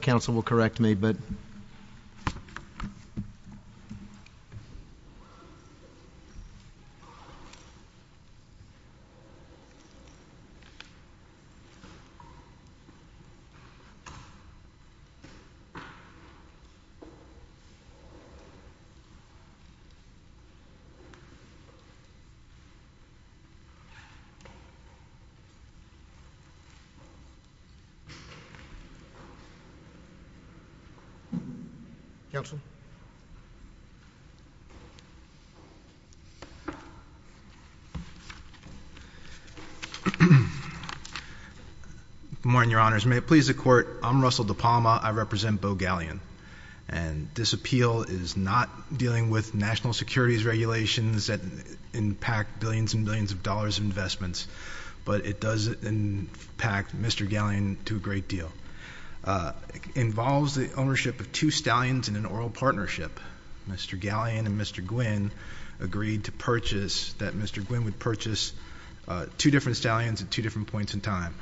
Council will correct me but I'm Russell DePalma. I represent Bo Galyean. And this appeal is not dealing with national securities regulations that impact billions and billions of dollars in investments, but it does impact Mr. Galyean to a great deal. It involves the ownership of two stallions in an oral partnership. Mr. Galyean and Mr. Guinn agreed to purchase, that Mr. Guinn would purchase two different stallions at two different points in time.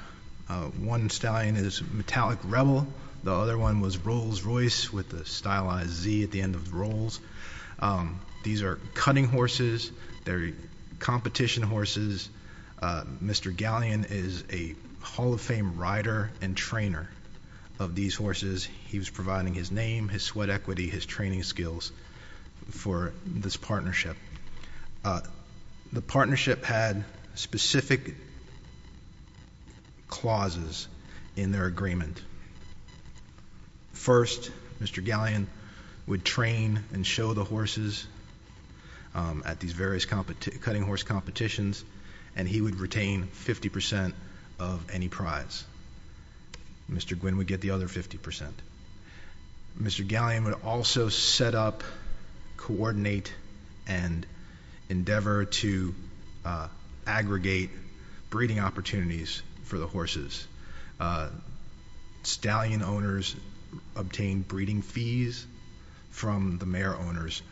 One stallion is Metallic Rebel, the other one was Rolls Royce with a stylized Z at the end of the rolls. These are cutting horses. They're competition horses. Mr. Galyean is a Hall of Fame rider and trainer of these horses. He was providing his name, his sweat equity, his training skills for this partnership. The partnership had specific clauses in their agreement. First, Mr. Galyean would train and show the horses at these various cutting horse competitions and he would retain 50% of any prize. Mr. Guinn would get the other 50%. Mr. Galyean would also set up, coordinate, and endeavor to aggregate breeding opportunities for the horses. Stallion owners obtain breeding fees from the mare owners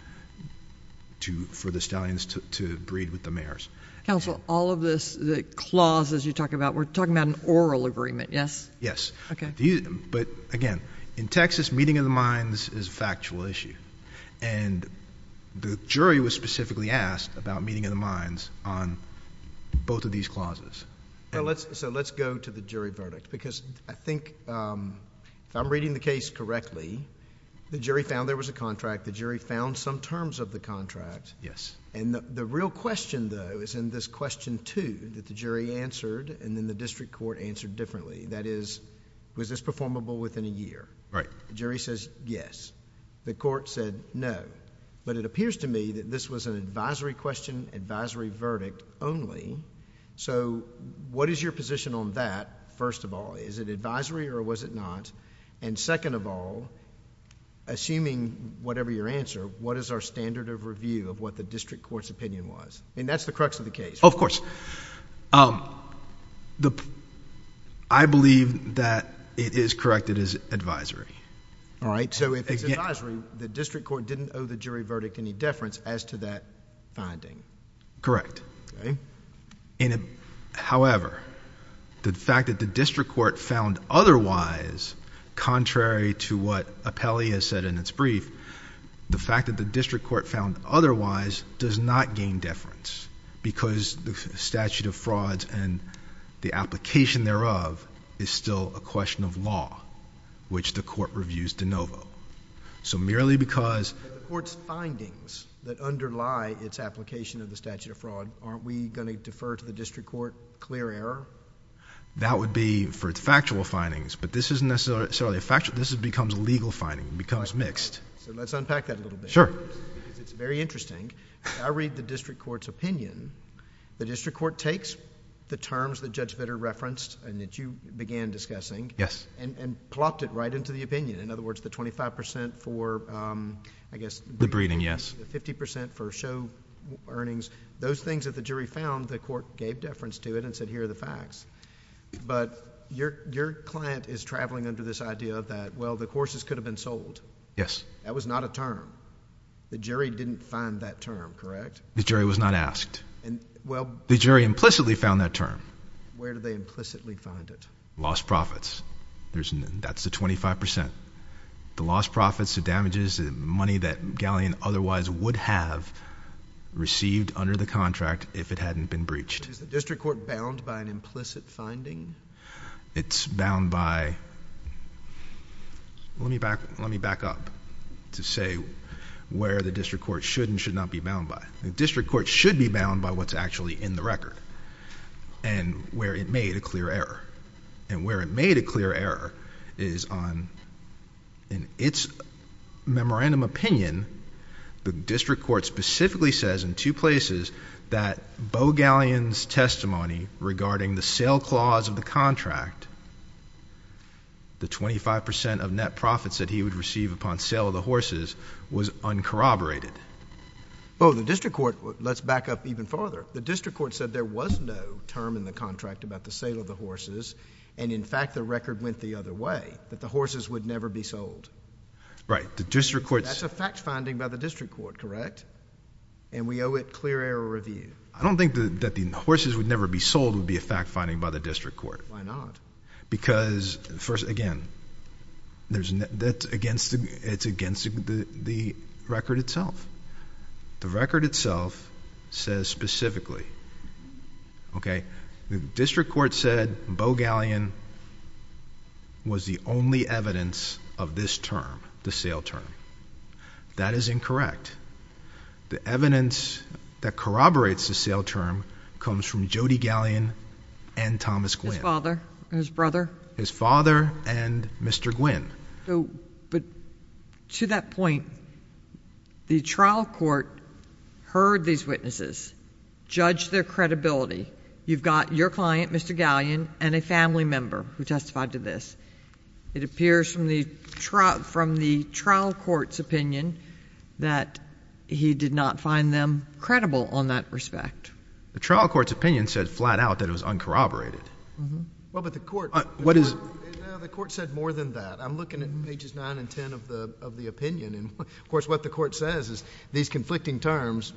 for the stallions to breed with the mares. Counsel, all of this, the clauses you talk about, we're talking about an oral agreement, yes? Yes. Again, in Texas, meeting of the minds is a factual issue. The jury was specifically asked about meeting of the minds on both of these clauses. Let's go to the jury verdict because I think if I'm reading the case correctly, the jury found there was a contract. The jury found some terms of the contract. Yes. The real question, though, is in this question two that the jury answered and then the district court answered differently. That is, was this performable within a year? Right. The jury says yes. The court said no, but it appears to me that this was an advisory question, advisory verdict only. What is your position on that, first of all? Is it advisory or was it not? Second of all, assuming whatever your answer, what is our standard of review of what the district court's opinion was? That's the crux of the case. Of course. I believe that it is corrected as advisory. If it's advisory, the district court didn't owe the jury verdict any deference as to that finding. Correct. However, the fact that the district court found otherwise, contrary to what Appellee has said in its brief, the fact that the district court found otherwise does not gain deference because the statute of frauds and the application thereof is still a question of law, which the court reviews de novo. Merely because of the court's findings that underlie its application of the statute of fraud, aren't we going to defer to the district court clear error? That would be for factual findings, but this isn't necessarily a factual... this becomes a legal finding. It becomes mixed. Let's unpack that a little bit. Sure. Because it's very interesting. I read the district court's opinion. The district court takes the terms that Judge Vitter referenced and that you began discussing and plopped it right into the opinion. In other words, the 25 percent for, I guess... The breeding, yes. The 50 percent for show earnings. Those things that the jury found, the court gave deference to it and said, here are the facts. Your client is traveling under this idea that, well, the courses could have been sold. Yes. That was not a term. The jury didn't find that term, correct? The jury was not asked. The jury implicitly found that term. Where did they implicitly find it? Lost profits. That's the 25 percent. The lost profits, the damages, the money that Galleon otherwise would have received under the contract if it hadn't been breached. Is the district court bound by an implicit finding? It's bound by... let me back up to say where the district court should and should not be bound by. The district court should be bound by what's actually in the record and where it made a clear error. Where it made a clear error is on, in its memorandum opinion, the district court specifically says in two places that Bo Galleon's testimony regarding the sale clause of the contract, the 25 percent of net profits that he would receive upon sale of the horses was uncorroborated. Bo, the district court... let's back up even farther. The district court said there was no term in the contract about the sale of the horses and, in fact, the record went the other way, that the horses would never be sold. Right. The district court... That's a fact finding by the district court, correct? And we owe it clear error review. I don't think that the horses would never be sold would be a fact finding by the district court. Why not? Because, first, again, it's against the record itself. The record itself says specifically that Bo Galleon was the only evidence of this term, the sale term. That is incorrect. The evidence that corroborates the sale term comes from Jody Galleon and Thomas Gwynn. His father and his brother? His father and Mr. Gwynn. But to that point, the trial court heard these witnesses, judged their credibility, and said you've got your client, Mr. Galleon, and a family member who testified to this. It appears from the trial court's opinion that he did not find them credible on that respect. The trial court's opinion said flat out that it was uncorroborated. Well, but the court... What is... The court said more than that. I'm looking at pages 9 and 10 of the opinion. Of course, what the court says is these conflicting terms,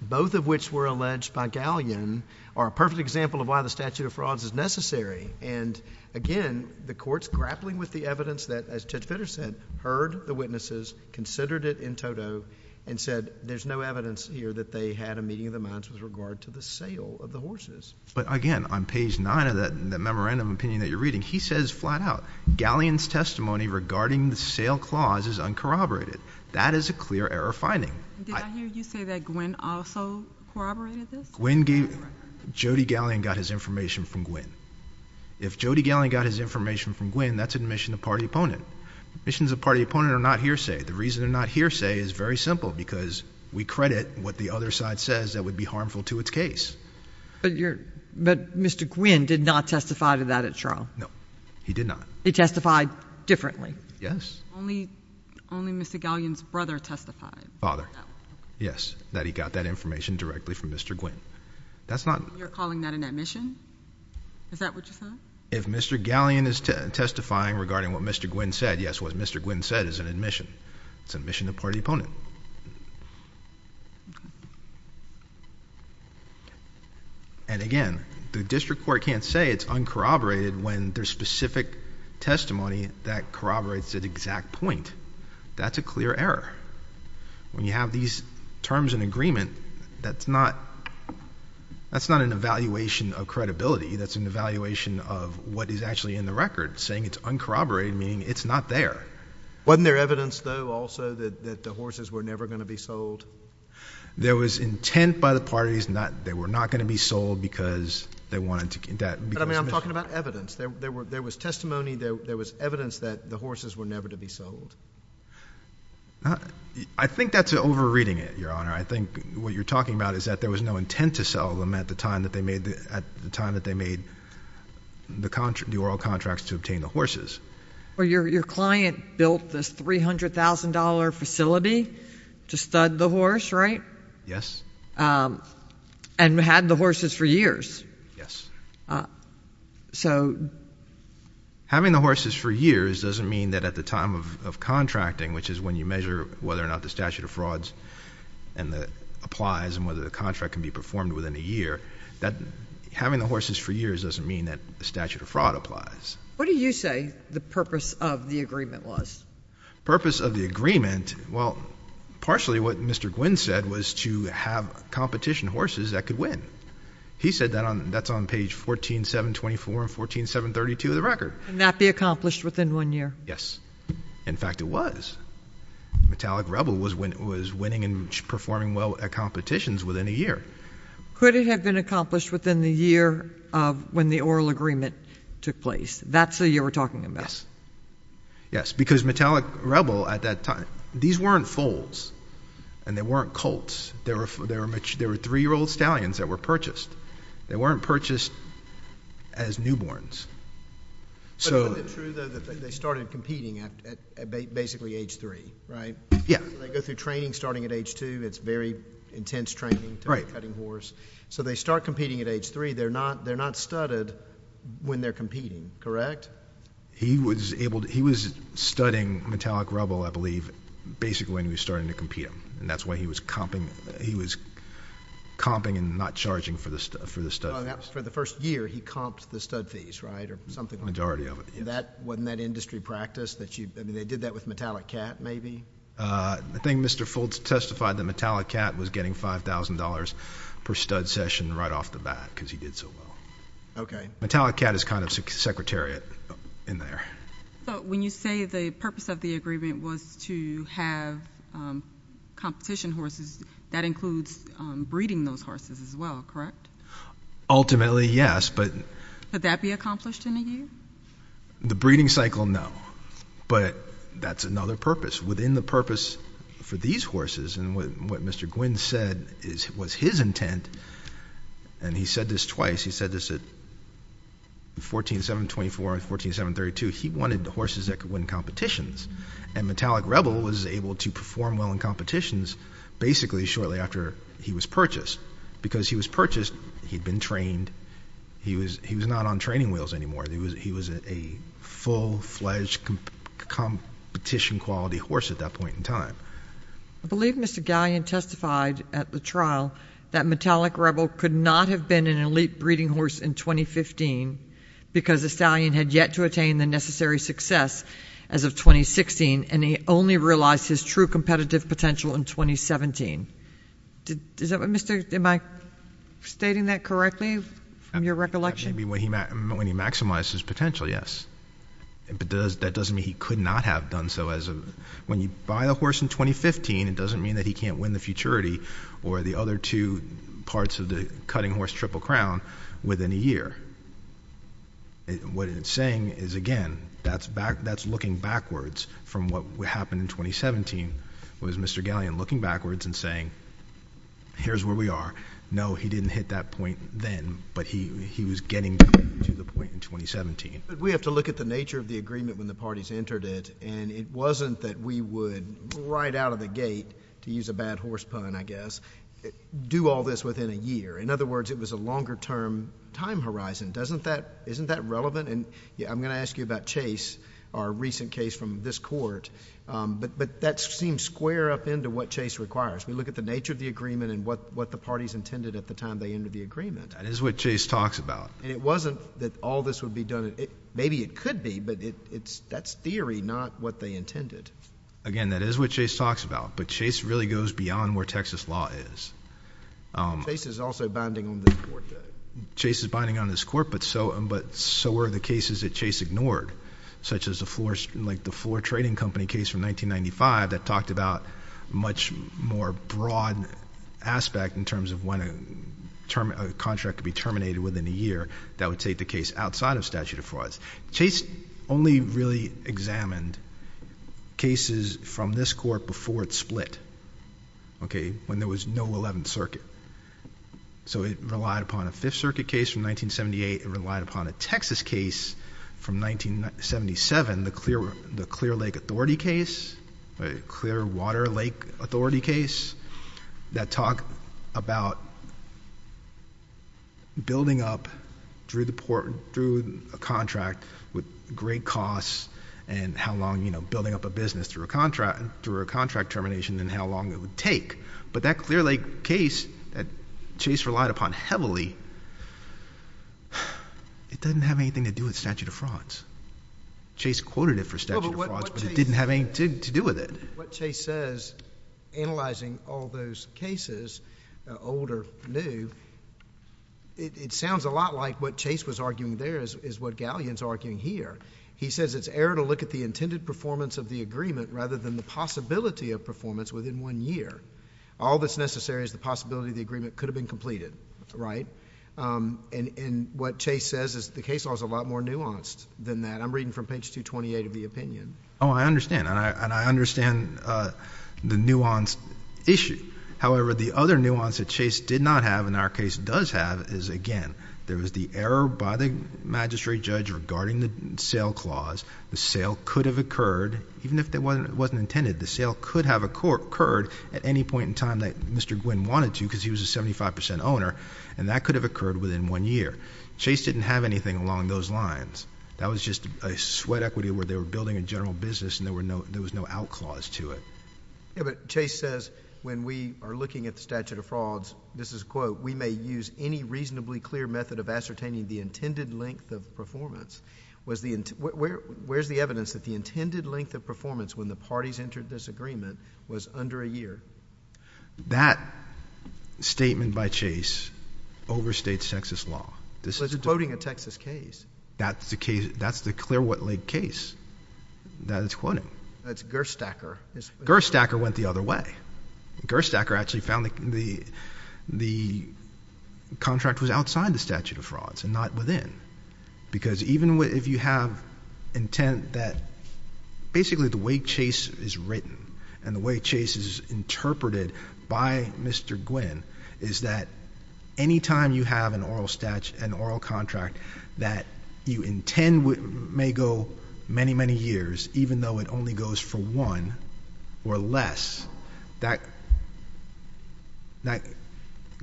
both of which were alleged by Galleon, are a perfect example of why the statute of frauds is necessary. And, again, the court's grappling with the evidence that, as Judge Fitter said, heard the witnesses, considered it in toto, and said there's no evidence here that they had a meeting of the minds with regard to the sale of the horses. But again, on page 9 of that memorandum of opinion that you're reading, he says flat out, Galleon's testimony regarding the sale clause is uncorroborated. That is a clear error finding. Did I hear you say that Gwynne also corroborated this? Gwynne gave... Jody Galleon got his information from Gwynne. If Jody Galleon got his information from Gwynne, that's admission of party opponent. Admissions of party opponent are not hearsay. The reason they're not hearsay is very simple, because we credit what the other side says that would be harmful to its case. But Mr. Gwynne did not testify to that at trial. No, he did not. He testified differently. Yes. Only Mr. Galleon's brother testified. Father. Yes, that he got that information directly from Mr. Gwynne. That's not... You're calling that an admission? Is that what you're saying? If Mr. Galleon is testifying regarding what Mr. Gwynne said, yes, what Mr. Gwynne said is an admission. It's admission of party opponent. And again, the district court can't say it's uncorroborated when there's specific testimony that corroborates an exact point. That's a clear error. When you have these terms in agreement, that's not an evaluation of credibility. That's an evaluation of what is actually in the record, saying it's uncorroborated, meaning it's not there. Wasn't there evidence, though, also, that the horses were never going to be sold? There was intent by the parties that they were not going to be sold because they wanted to... But, I mean, I'm talking about evidence. There was testimony, there was evidence that the horses were never to be sold. I think that's over-reading it, Your Honor. I think what you're talking about is that there was no intent to sell them at the time that they made the oral contracts to obtain the horses. Well, your client built this $300,000 facility to stud the horse, right? Yes. And had the horses for years. Yes. So... Having the horses for years doesn't mean that at the time of contracting, which is when you measure whether or not the statute of frauds applies and whether the contract can be performed within a year, that having the horses for years doesn't mean that the statute of fraud applies. What do you say the purpose of the agreement was? Purpose of the agreement, well, partially what Mr. Gwinn said was to have competition horses that could win. He said that on... that's on page 14, 724 and 14, 732 of the record. And that be accomplished within one year? Yes. In fact, it was. Metallic Rebel was winning and performing well at competitions within a year. Could it have been accomplished within the year of when the oral agreement took place? That's the year we're talking about? Yes. Yes. Because Metallic Rebel at that time, these weren't foals and they weren't colts. There were three-year-old stallions that were purchased. They weren't purchased as newborns. But isn't it true, though, that they started competing at basically age three, right? Yeah. They go through training starting at age two. It's very intense training to be cutting horse. So they start competing at age three. They're not studded when they're competing, correct? He was able to... he was studding Metallic Rebel, I believe, basically when he was starting to compete them. And that's why he was comping and not charging for the stud fees. For the first year, he comped the stud fees, right, or something like that? Majority of it, yes. Wasn't that industry practice that you... I mean, they did that with Metallic Cat, maybe? I think Mr. Fultz testified that Metallic Cat was getting $5,000 per stud session right off the bat because he did so well. Metallic Cat is kind of secretariat in there. But when you say the purpose of the agreement was to have competition horses, that includes breeding those horses as well, correct? Ultimately, yes, but... Could that be accomplished in a year? The breeding cycle, no, but that's another purpose. Within the purpose for these horses, and what Mr. Gwynne said was his intent, and he said this twice, he said this at 14-7-24 and 14-7-32, he wanted horses that could win competitions. And Metallic Rebel was able to perform well in competitions basically shortly after he was purchased. Because he was purchased, he'd been trained, he was not on training wheels anymore. He was a full-fledged competition-quality horse at that point in time. I believe Mr. Galyan testified at the trial that Metallic Rebel could not have been an elite breeding horse in 2015 because the stallion had yet to attain the necessary success as of 2016, and he only realized his true competitive potential in 2017. Am I stating that correctly from your recollection? When he maximized his potential, yes, but that doesn't mean he could not have done so. When you buy a horse in 2015, it doesn't mean that he can't win the Futurity or the other two parts of the Cutting Horse Triple Crown within a year. What it's saying is, again, that's looking backwards from what happened in 2017, was Mr. Galyan looking backwards and saying, here's where we are. No, he didn't hit that point then, but he was getting to the point in 2017. But we have to look at the nature of the agreement when the parties entered it, and it wasn't that we would, right out of the gate, to use a bad horse pun, I guess, do all this within a year. In other words, it was a longer-term time horizon. Isn't that relevant? I'm going to ask you about Chase, our recent case from this court, but that seems square up into what Chase requires. We look at the nature of the agreement and what the parties intended at the time they entered the agreement. That is what Chase talks about. And it wasn't that all this would be done. Maybe it could be, but that's theory, not what they intended. Again, that is what Chase talks about, but Chase really goes beyond where Texas law is. Chase is also binding on this court. Chase is binding on this court, but so are the cases that Chase ignored, such as the Floor Trading Company case from 1995 that talked about a much more broad aspect in terms of when a contract could be terminated within a year that would take the case outside of statute of frauds. Chase only really examined cases from this court before it split, when there was no Eleventh Circuit. So it relied upon a Fifth Circuit case from 1978. It relied upon a Texas case from 1977. The Clear Lake Authority case, Clearwater Lake Authority case that talked about building up through a contract with great costs and how long, you know, building up a business through a contract termination and how long it would take. But that Clear Lake case that Chase relied upon heavily, it doesn't have anything to do with statute of frauds. Chase quoted it for statute of frauds, but it didn't have anything to do with it. But what Chase says, analyzing all those cases, old or new, it sounds a lot like what Chase was arguing there is what Galleon is arguing here. He says it's error to look at the intended performance of the agreement rather than the possibility of performance within one year. All that's necessary is the possibility the agreement could have been completed, right? And what Chase says is the case law is a lot more nuanced than that. I'm reading from page 228 of the opinion. Oh, I understand. And I understand the nuanced issue. However, the other nuance that Chase did not have and our case does have is, again, there was the error by the magistrate judge regarding the sale clause. The sale could have occurred, even if it wasn't intended. The sale could have occurred at any point in time that Mr. Gwynn wanted to because he was a 75 percent owner, and that could have occurred within one year. Chase didn't have anything along those lines. That was just a sweat equity where they were building a general business and there was no out clause to it. Yeah, but Chase says when we are looking at the statute of frauds, this is a quote, we may use any reasonably clear method of ascertaining the intended length of performance. Where's the evidence that the intended length of performance when the parties entered this agreement was under a year? That statement by Chase overstates Texas law. But it's quoting a Texas case. That's the clear what leg case that it's quoting. That's Gerstacker. Gerstacker went the other way. Gerstacker actually found the contract was outside the statute of frauds and not within because even if you have intent that basically the way Chase is written and the way Chase is interpreted by Mr. Gwynn is that any time you have an oral contract that you intend may go many, many years, even though it only goes for one or less, that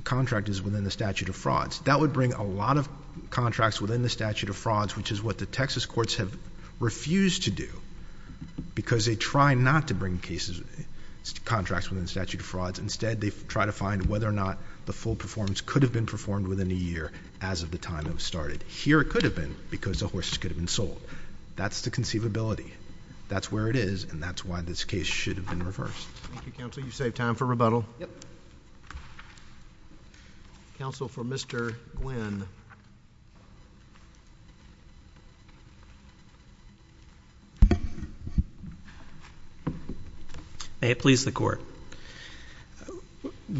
contract is within the statute of frauds. That would bring a lot of contracts within the statute of frauds, which is what the Texas courts have refused to do because they try not to bring cases, contracts within the statute of frauds. Instead, they try to find whether or not the full performance could have been performed within a year as of the time it was started. Here it could have been because the horses could have been sold. That's the conceivability. That's where it is, and that's why this case should have been reversed. Thank you, counsel. You saved time for rebuttal. Yep. Counsel for Mr. Gwynn. May it please the court.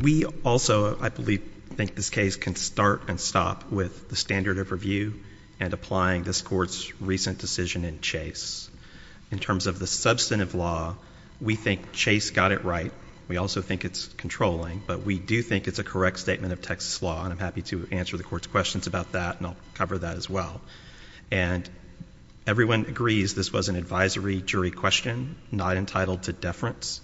We also, I believe, think this case can start and stop with the standard of review and applying this court's recent decision in Chase. In terms of the substantive law, we think Chase got it right. We also think it's controlling, but we do think it's a correct statement of Texas law, and I'm happy to answer the court's questions about that, and I'll cover that as well. And everyone agrees this was an advisory jury question, not entitled to deference,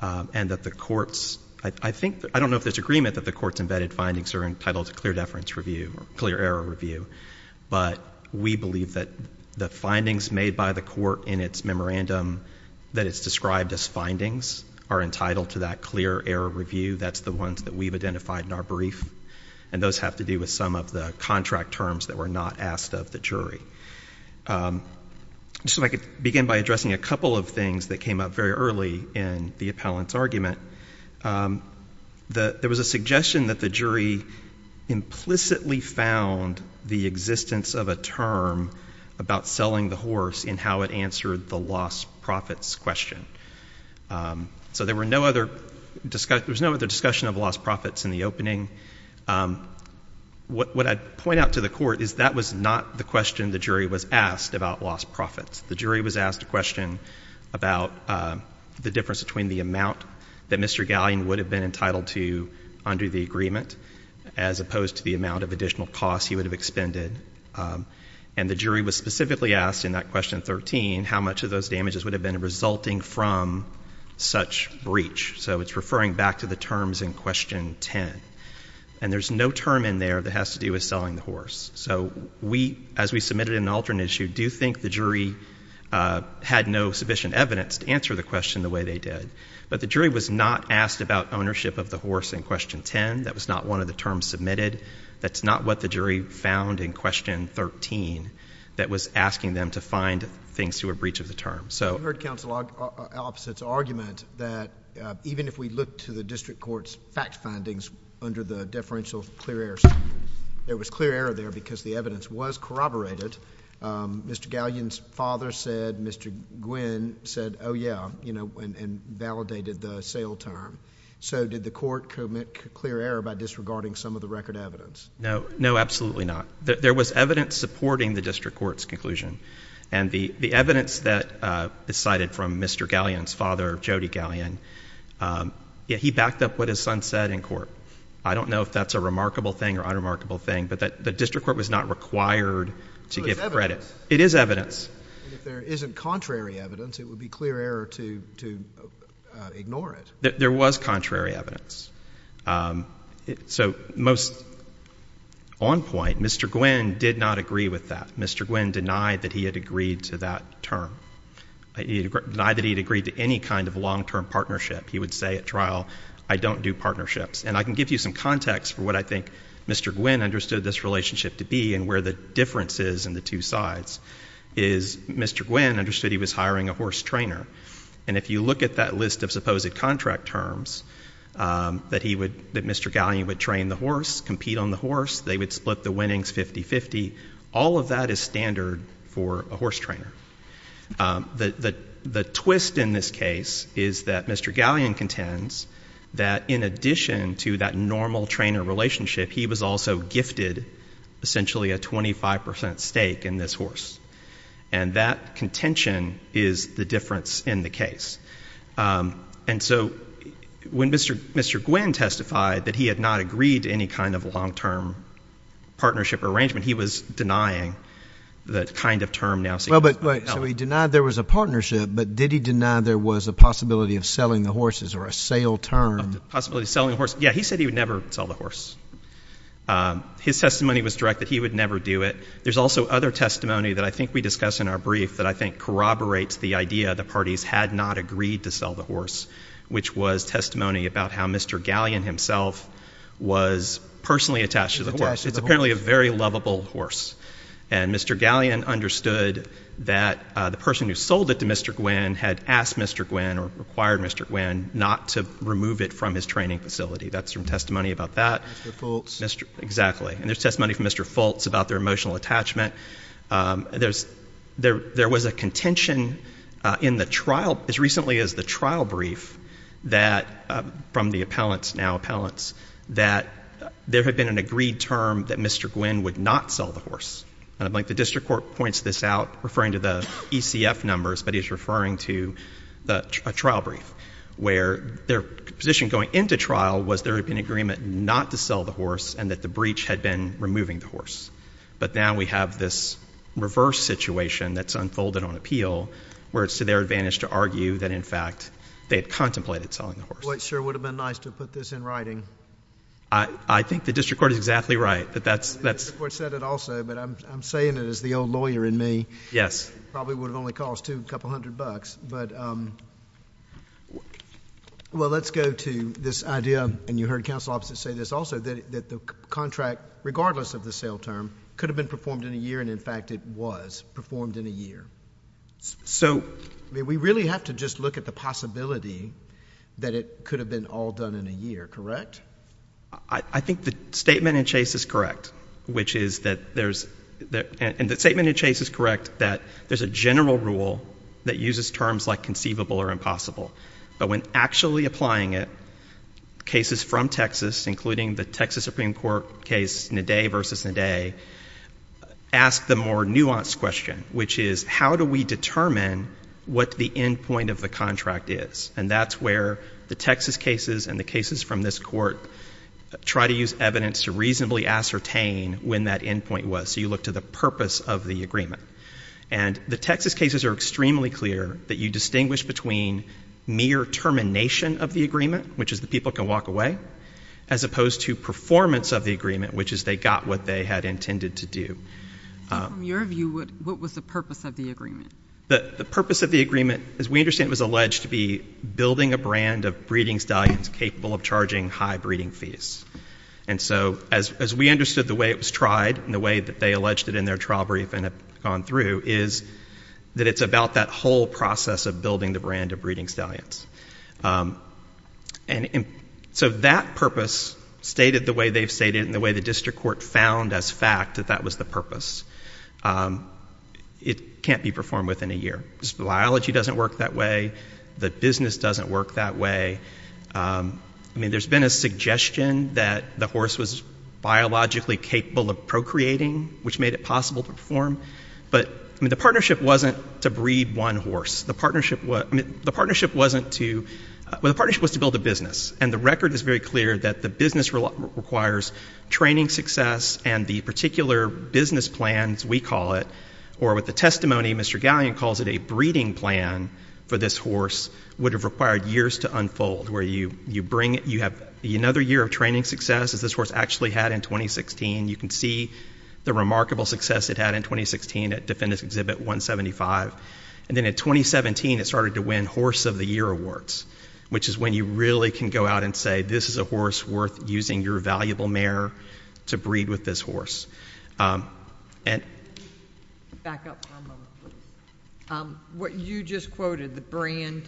and that the courts, I think, I don't know if there's agreement that the court's embedded findings are entitled to clear deference review or clear error review, but we believe that the findings made by the court in its memorandum, that it's described as findings, are entitled to that clear error review. That's the ones that we've identified in our brief, and those have to do with some of the contract terms that were not asked of the jury. So if I could begin by addressing a couple of things that came up very early in the appellant's argument. There was a suggestion that the jury implicitly found the existence of a term about selling the horse in how it answered the lost profits question. So there was no other discussion of lost profits in the opening. What I'd point out to the court is that was not the question the jury was asked about lost profits. The jury was asked a question about the difference between the amount that Mr. Gallion would have been entitled to under the agreement as opposed to the amount of additional costs he would have expended, and the jury was specifically asked in that question 13 how much of those damages would have been resulting from such breach. So it's referring back to the terms in question 10, and there's no term in there that has to do with selling the horse. So as we submitted an alternate issue, do you think the jury had no sufficient evidence to answer the question the way they did? But the jury was not asked about ownership of the horse in question 10. That was not one of the terms submitted. That's not what the jury found in question 13 that was asking them to find things to a breach of the term. So I heard Counsel Opposite's argument that even if we look to the district court's fact findings under the deferential clear error, there was clear error there because the evidence was corroborated. Mr. Gallion's father said, Mr. Gwynne said, oh, yeah, you know, and validated the sale term. So did the court commit clear error by disregarding some of the record evidence? No, absolutely not. There was evidence supporting the district court's conclusion, and the evidence that is cited from Mr. Gallion's father, Jody Gallion, he backed up what his son said in court. I don't know if that's a remarkable thing or unremarkable thing, but the district court was not required to give credit. It is evidence. If there isn't contrary evidence, it would be clear error to ignore it. There was contrary evidence. So most on point, Mr. Gwynne did not agree with that. Mr. Gwynne denied that he had agreed to that term. He denied that he had agreed to any kind of long-term partnership. He would say at trial, I don't do partnerships. And I can give you some context for what I think Mr. Gwynne understood this relationship to be and where the difference is in the two sides is Mr. Gwynne understood he was hiring a horse trainer. And if you look at that list of supposed contract terms that he would, that Mr. Gallion would train the horse, compete on the horse, they would split the winnings 50-50, all of that is standard for a horse trainer. The twist in this case is that Mr. Gallion contends that in addition to that normal trainer relationship, he was also gifted essentially a 25 percent stake in this horse. And that contention is the difference in the case. And so when Mr. Gwynne testified that he had not agreed to any kind of long-term partnership or arrangement, he was denying the kind of term. So he denied there was a partnership, but did he deny there was a possibility of selling the horses or a sale term? Possibility of selling the horse. Yeah, he said he would never sell the horse. His testimony was direct that he would never do it. There's also other testimony that I think we discussed in our brief that I think corroborates the idea the parties had not agreed to sell the horse, which was testimony about how Mr. Gallion himself was personally attached to the horse. It's apparently a very lovable horse. And Mr. Gallion understood that the person who sold it to Mr. Gwynne had asked Mr. Gwynne or required Mr. Gwynne not to remove it from his training facility. That's from testimony about that. Mr. Fultz. Exactly. And there's testimony from Mr. Fultz about their emotional attachment. There was a contention in the trial as recently as the trial brief that from the appellants, now appellants, that there had been an agreed term that Mr. Gwynne would not sell the horse. And I think the district court points this out, referring to the ECF numbers, but he's referring to a trial brief where their position going into trial was there had been agreement not to sell the horse and that the breach had been removing the horse. But now we have this reverse situation that's unfolded on appeal where it's to their advantage to argue that, in fact, they had contemplated selling the horse. Well, it sure would have been nice to have put this in writing. I think the district court is exactly right. The district court said it also, but I'm saying it as the old lawyer in me. Yes. It probably would have only cost a couple hundred bucks. But, well, let's go to this idea, and you heard counsel opposite say this also, that the contract, regardless of the sale term, could have been performed in a year, and, in fact, it was performed in a year. So we really have to just look at the possibility that it could have been all done in a year, correct? I think the statement in Chase is correct, which is that there's, and the statement in Chase is correct, that there's a general rule that uses terms like conceivable or impossible. But when actually applying it, cases from Texas, including the Texas Supreme Court case, Naday v. Naday, ask the more nuanced question, which is how do we determine what the end point of the contract is? And that's where the Texas cases and the cases from this court try to use evidence to reasonably ascertain when that end point was. So you look to the purpose of the agreement. And the Texas cases are extremely clear that you distinguish between mere termination of the agreement, which is the people can walk away, as opposed to performance of the agreement, which is they got what they had intended to do. So from your view, what was the purpose of the agreement? The purpose of the agreement, as we understand, was alleged to be building a brand of breeding stallions capable of charging high breeding fees. And so as we understood the way it was tried and the way that they alleged it in their trial briefing and have gone through, is that it's about that whole process of building the brand of breeding stallions. And so that purpose stated the way they've stated it and the way the district court found as fact that that was the purpose. It can't be performed within a year. The biology doesn't work that way. The business doesn't work that way. I mean, there's been a suggestion that the horse was biologically capable of procreating, which made it possible to perform. But the partnership wasn't to breed one horse. The partnership was to build a business. And the record is very clear that the business requires training success and the particular business plans, we call it, or with the testimony, Mr. Gallion calls it a breeding plan for this horse, would have required years to unfold, where you have another year of training success, as this horse actually had in 2016. You can see the remarkable success it had in 2016 at Defendant's Exhibit 175. And then in 2017, it started to win Horse of the Year awards, which is when you really can go out and say this is a horse worth using your valuable mare to breed with this horse. And... Back up one moment, please. What you just quoted, the brand,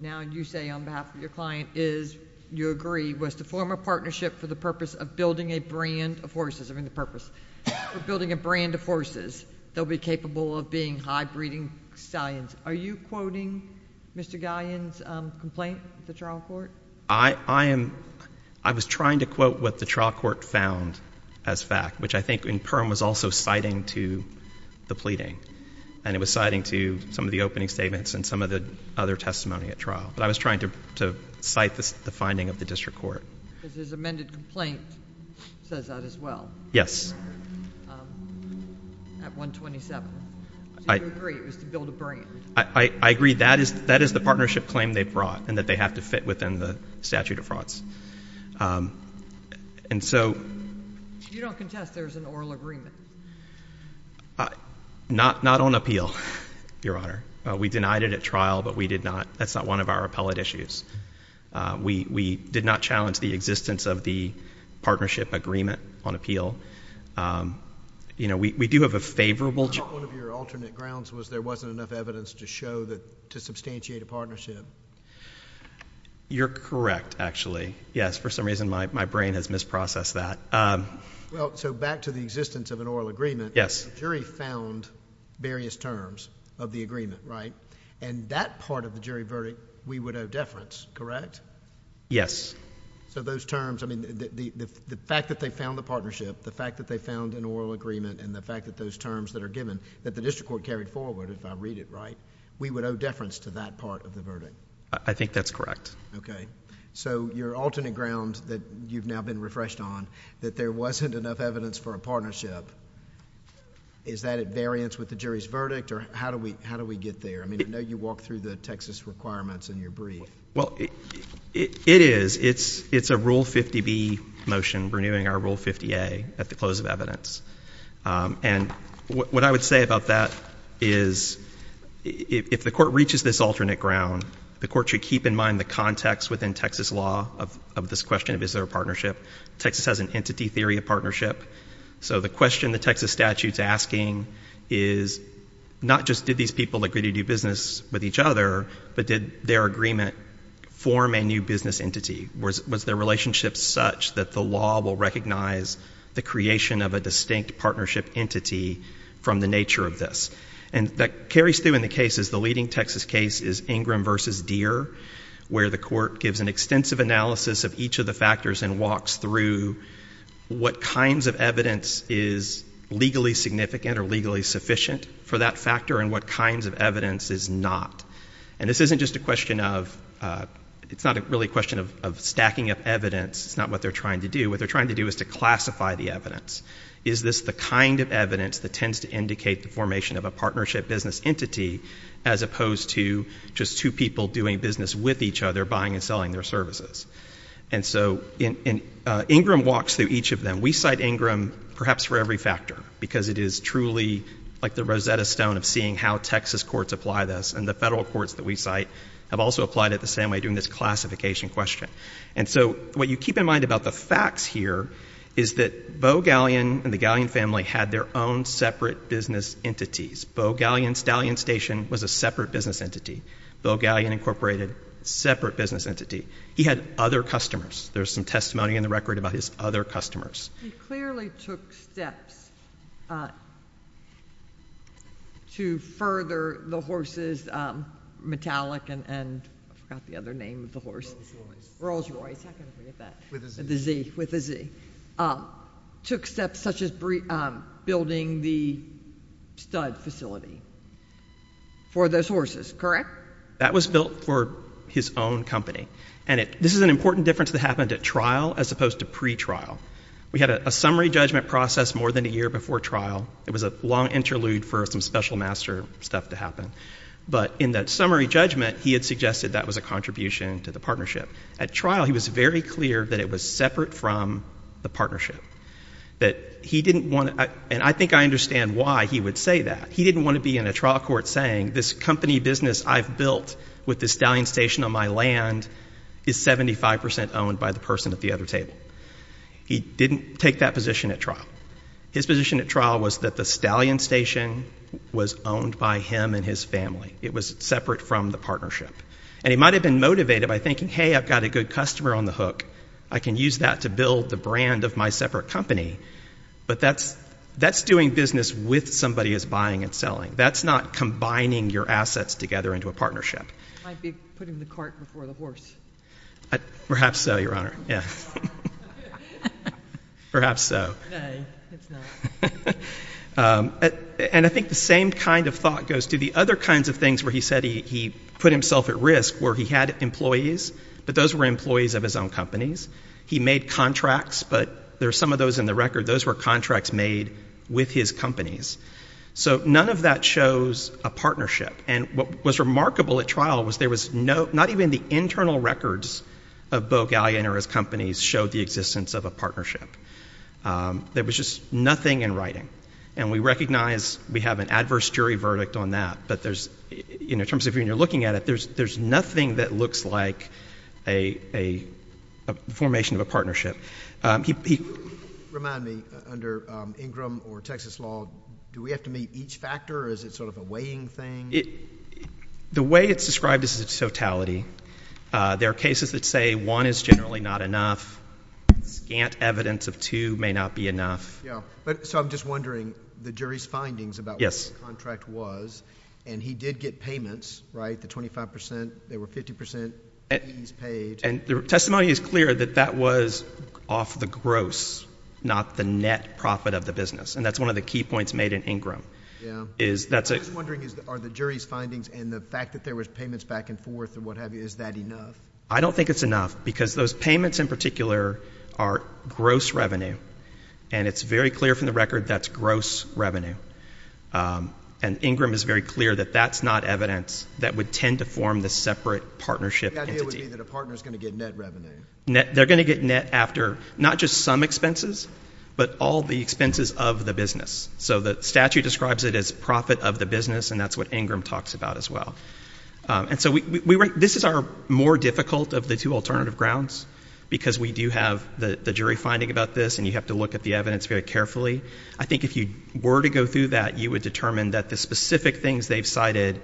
now you say on behalf of your client is, you agree, was to form a partnership for the purpose of building a brand of horses. I mean, the purpose. For building a brand of horses that will be capable of being high-breeding stallions. Are you quoting Mr. Gallion's complaint with the trial court? I am, I was trying to quote what the trial court found as fact, which I think in perm was also citing to the pleading. And it was citing to some of the opening statements and some of the other testimony at trial. But I was trying to cite the finding of the district court. Because his amended complaint says that as well. At 127. Did you agree it was to build a brand? I agree. That is the partnership claim they brought. And that they have to fit within the statute of frauds. And so... You don't contest there's an oral agreement? Not on appeal, Your Honor. We denied it at trial, but we did not. That's not one of our appellate issues. We did not challenge the existence of the partnership agreement on appeal. You know, we do have a favorable... One of your alternate grounds was there wasn't enough evidence to show that, to substantiate a partnership. You're correct, actually. Yes, for some reason my brain has misprocessed that. Well, so back to the existence of an oral agreement. Yes. The jury found various terms of the agreement, right? And that part of the jury verdict we would owe deference, correct? Yes. So those terms, I mean, the fact that they found the partnership, the fact that they found an oral agreement, and the fact that those terms that are given, that the district court carried forward, if I read it right, we would owe deference to that part of the verdict? I think that's correct. Okay. So your alternate ground that you've now been refreshed on, that there wasn't enough evidence for a partnership, is that at variance with the jury's verdict? Or how do we get there? I mean, I know you walked through the Texas requirements in your brief. Well, it is. It's a Rule 50B motion renewing our Rule 50A at the close of evidence. And what I would say about that is if the court reaches this alternate ground, the court should keep in mind the context within Texas law of this question of is there a partnership. Texas has an entity theory of partnership. So the question the Texas statute's asking is not just did these people agree to do business with each other, but did their agreement form a new business entity? Was their relationship such that the law will recognize the creation of a distinct partnership entity from the nature of this? And that carries through in the cases. The leading Texas case is Ingram v. Deere, where the court gives an extensive analysis of each of the factors and walks through what kinds of evidence is legally significant or legally sufficient for that factor and what kinds of evidence is not. And this isn't just a question of stacking up evidence. It's not what they're trying to do. What they're trying to do is to classify the evidence. Is this the kind of evidence that tends to indicate the formation of a partnership business entity as opposed to just two people doing business with each other, buying and selling their services? And so Ingram walks through each of them. And we cite Ingram perhaps for every factor because it is truly like the Rosetta Stone of seeing how Texas courts apply this, and the federal courts that we cite have also applied it the same way, doing this classification question. And so what you keep in mind about the facts here is that Bo Gallion and the Gallion family had their own separate business entities. Bo Gallion Stallion Station was a separate business entity. Bo Gallion Incorporated, separate business entity. He had other customers. There's some testimony in the record about his other customers. He clearly took steps to further the horses, Metallic and I forgot the other name of the horse. Rolls Royce. Rolls Royce. How can I forget that? With a Z. With a Z. Took steps such as building the stud facility for those horses, correct? That was built for his own company. And this is an important difference that happened at trial as opposed to pretrial. We had a summary judgment process more than a year before trial. It was a long interlude for some special master stuff to happen. But in that summary judgment, he had suggested that was a contribution to the partnership. At trial, he was very clear that it was separate from the partnership. That he didn't want to, and I think I understand why he would say that. He didn't want to be in a trial court saying this company business I've built with the stallion station on my land is 75% owned by the person at the other table. He didn't take that position at trial. His position at trial was that the stallion station was owned by him and his family. It was separate from the partnership. And he might have been motivated by thinking, hey, I've got a good customer on the hook. I can use that to build the brand of my separate company. But that's doing business with somebody who's buying and selling. That's not combining your assets together into a partnership. It might be putting the cart before the horse. Perhaps so, Your Honor. Yeah. Perhaps so. Nay, it's not. And I think the same kind of thought goes to the other kinds of things where he said he put himself at risk where he had employees, but those were employees of his own companies. He made contracts, but there are some of those in the record. Those were contracts made with his companies. So none of that shows a partnership. And what was remarkable at trial was there was not even the internal records of Bo Gallion or his companies showed the existence of a partnership. There was just nothing in writing. And we recognize we have an adverse jury verdict on that. But in terms of when you're looking at it, there's nothing that looks like a formation of a partnership. Remind me, under Ingram or Texas law, do we have to meet each factor or is it sort of a weighing thing? The way it's described is its totality. There are cases that say one is generally not enough. Scant evidence of two may not be enough. Yeah. So I'm just wondering, the jury's findings about what the contract was, and he did get payments, right, the 25 percent? They were 50 percent fees paid. And the testimony is clear that that was off the gross, not the net profit of the business. And that's one of the key points made in Ingram. Yeah. I'm just wondering, are the jury's findings and the fact that there was payments back and forth and what have you, is that enough? I don't think it's enough because those payments in particular are gross revenue, and it's very clear from the record that's gross revenue. And Ingram is very clear that that's not evidence that would tend to form the separate partnership entity. The idea would be that a partner's going to get net revenue. They're going to get net after not just some expenses, but all the expenses of the business. So the statute describes it as profit of the business, and that's what Ingram talks about as well. And so this is our more difficult of the two alternative grounds because we do have the jury finding about this, and you have to look at the evidence very carefully. I think if you were to go through that, you would determine that the specific things they've cited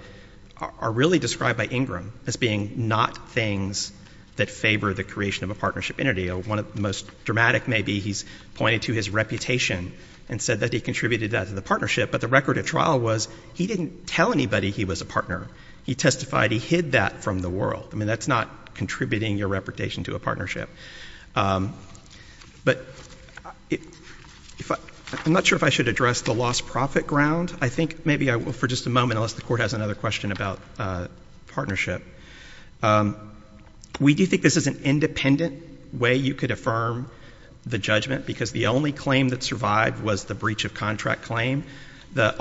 are really described by Ingram as being not things that favor the creation of a partnership entity. One of the most dramatic may be he's pointed to his reputation and said that he contributed that to the partnership, but the record of trial was he didn't tell anybody he was a partner. He testified he hid that from the world. I mean, that's not contributing your reputation to a partnership. But I'm not sure if I should address the lost profit ground. I think maybe I will for just a moment unless the Court has another question about partnership. We do think this is an independent way you could affirm the judgment because the only claim that survived was the breach of contract claim. The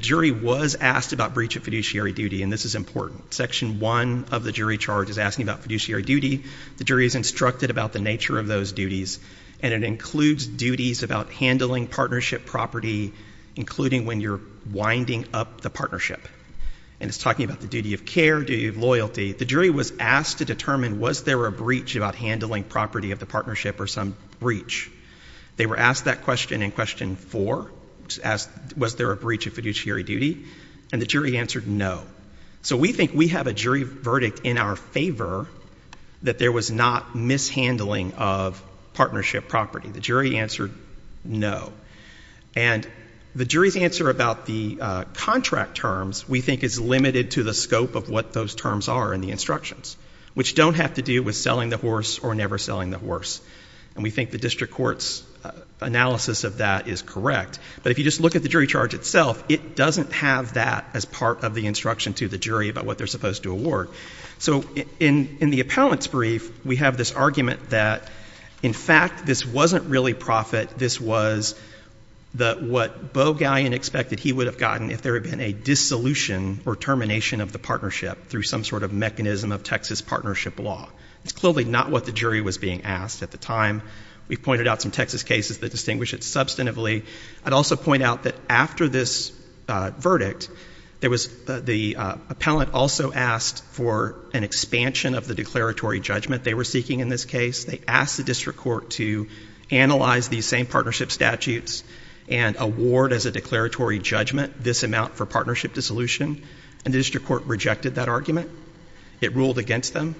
jury was asked about breach of fiduciary duty, and this is important. Section 1 of the jury charge is asking about fiduciary duty. The jury is instructed about the nature of those duties, and it includes duties about handling partnership property, including when you're winding up the partnership. And it's talking about the duty of care, duty of loyalty. The jury was asked to determine was there a breach about handling property of the partnership or some breach. They were asked that question in Question 4, was there a breach of fiduciary duty, and the jury answered no. So we think we have a jury verdict in our favor that there was not mishandling of partnership property. The jury answered no. And the jury's answer about the contract terms we think is limited to the scope of what those terms are in the instructions, which don't have to do with selling the horse or never selling the horse. And we think the district court's analysis of that is correct. But if you just look at the jury charge itself, it doesn't have that as part of the instruction to the jury about what they're supposed to award. So in the appellant's brief, we have this argument that, in fact, this wasn't really profit. This was what Bogallion expected he would have gotten if there had been a dissolution or termination of the partnership through some sort of mechanism of Texas partnership law. It's clearly not what the jury was being asked at the time. We've pointed out some Texas cases that distinguish it substantively. I'd also point out that after this verdict, the appellant also asked for an expansion of the declaratory judgment they were seeking in this case. They asked the district court to analyze these same partnership statutes and award as a declaratory judgment this amount for partnership dissolution. And the district court rejected that argument. It ruled against them.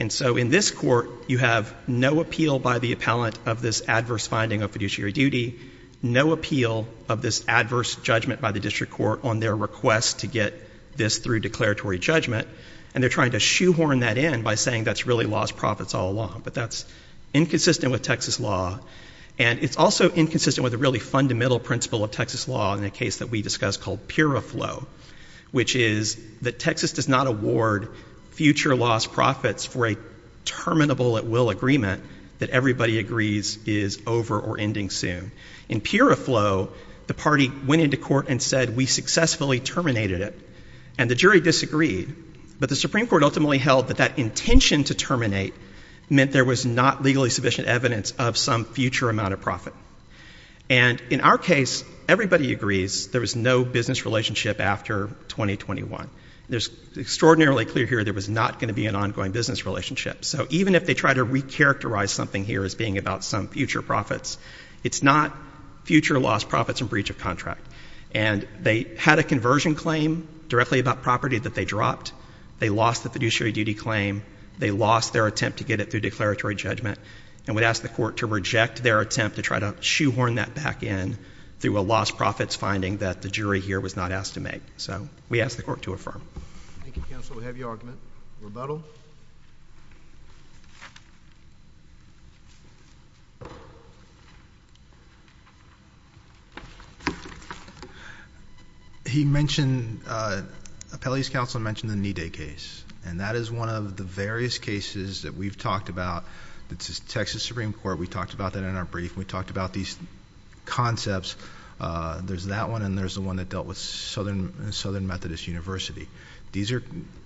And so in this court, you have no appeal by the appellant of this adverse finding of fiduciary duty, no appeal of this adverse judgment by the district court on their request to get this through declaratory judgment. And they're trying to shoehorn that in by saying that's really lost profits all along. But that's inconsistent with Texas law. And it's also inconsistent with a really fundamental principle of Texas law in a case that we discussed called puriflow, which is that Texas does not award future loss profits for a terminable at will agreement that everybody agrees is over or ending soon. In puriflow, the party went into court and said we successfully terminated it. And the jury disagreed. But the Supreme Court ultimately held that that intention to terminate meant there was not legally sufficient evidence of some future amount of profit. And in our case, everybody agrees there was no business relationship after 2021. It's extraordinarily clear here there was not going to be an ongoing business relationship. So even if they try to recharacterize something here as being about some future profits, it's not future loss profits and breach of contract. And they had a conversion claim directly about property that they dropped. They lost the fiduciary duty claim. They lost their attempt to get it through declaratory judgment. And we'd ask the court to reject their attempt to try to shoehorn that back in through a lost profits finding that the jury here was not asked to make. So we ask the court to affirm. Thank you, counsel. We have your argument. Rebuttal. He mentioned, Appellee's counsel mentioned the Nide case. And that is one of the various cases that we've talked about. It's the Texas Supreme Court. We talked about that in our brief. We talked about these concepts. There's that one and there's the one that dealt with Southern Methodist University. These are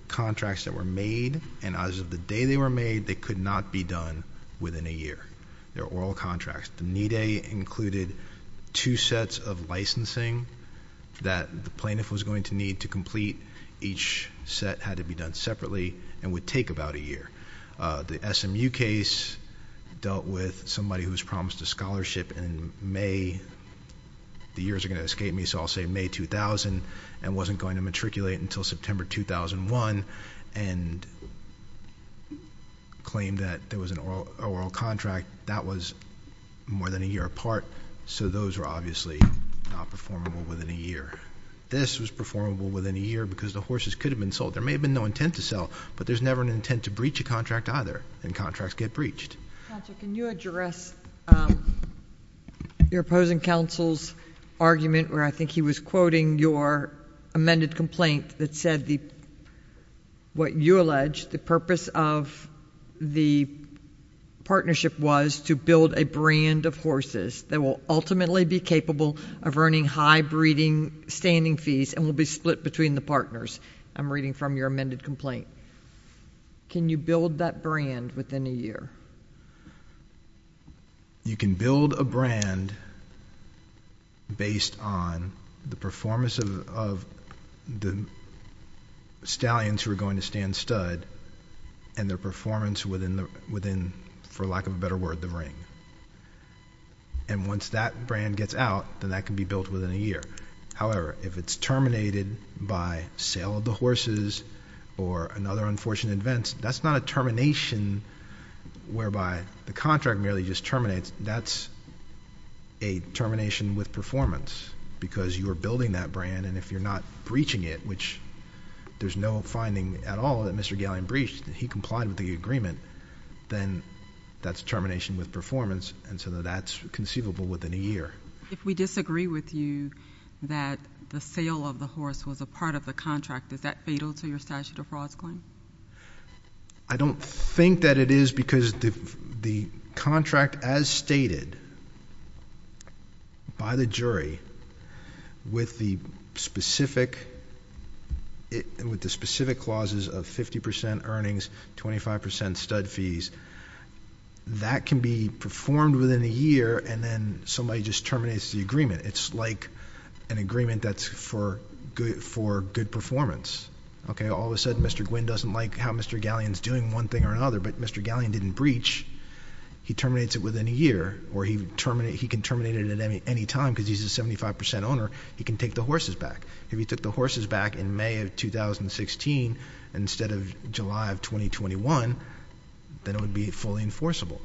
contracts that were made. And as of the day they were made, they could not be done within a year. They're oral contracts. The Nide included two sets of licensing that the plaintiff was going to need to complete. Each set had to be done separately and would take about a year. The SMU case dealt with somebody who was promised a scholarship in May. The years are going to escape me, so I'll say May 2000 and wasn't going to matriculate until September 2001. And claimed that there was an oral contract that was more than a year apart. So those were obviously not performable within a year. This was performable within a year because the horses could have been sold. There may have been no intent to sell, but there's never an intent to breach a contract either. And contracts get breached. Can you address your opposing counsel's argument where I think he was quoting your amended complaint that said what you allege the purpose of the partnership was to build a brand of horses that will ultimately be capable of earning high breeding standing fees and will be split between the partners. I'm reading from your amended complaint. Can you build that brand within a year? You can build a brand based on the performance of the stallions who are going to stand stud and their performance within, for lack of a better word, the ring. And once that brand gets out, then that can be built within a year. However, if it's terminated by sale of the horses or another unfortunate event, that's not a termination whereby the contract merely just terminates. That's a termination with performance because you are building that brand. And if you're not breaching it, which there's no finding at all that Mr. Gallion breached, that he complied with the agreement, then that's termination with performance. And so that's conceivable within a year. If we disagree with you that the sale of the horse was a part of the contract, is that fatal to your statute of frauds claim? I don't think that it is because the contract, as stated by the jury, with the specific clauses of 50 percent earnings, 25 percent stud fees, that can be performed within a year, and then somebody just terminates the agreement. It's like an agreement that's for good performance. All of a sudden, Mr. Gwin doesn't like how Mr. Gallion's doing one thing or another, but Mr. Gallion didn't breach. He terminates it within a year, or he can terminate it at any time because he's a 75 percent owner. He can take the horses back. If he took the horses back in May of 2016 instead of July of 2021, then it would be fully enforceable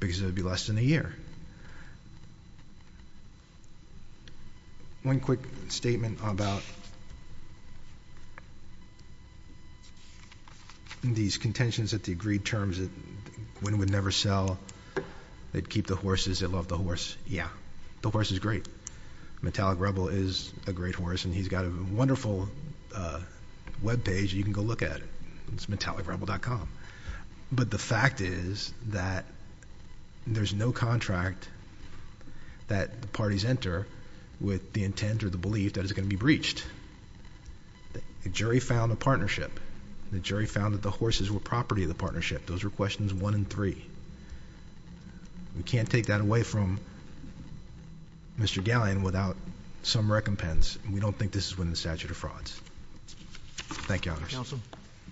because it would be less than a year. One quick statement about these contentions at the agreed terms that Gwin would never sell, they'd keep the horses, they'd love the horse. Yeah, the horse is great. Metallic Rebel is a great horse, and he's got a wonderful web page you can go look at. It's metallicrebel.com. But the fact is that there's no contract that the parties enter with the intent or the belief that it's going to be breached. The jury found a partnership. The jury found that the horses were property of the partnership. Those were questions one and three. We can't take that away from Mr. Gallion without some recompense, and we don't think this is within the statute of frauds. Thank you, Your Honor. Counsel.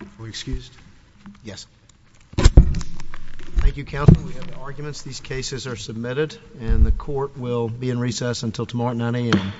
Are we excused? Yes. Thank you, Counsel. We have no arguments. These cases are submitted, and the court will be in recess until tomorrow at 9 a.m.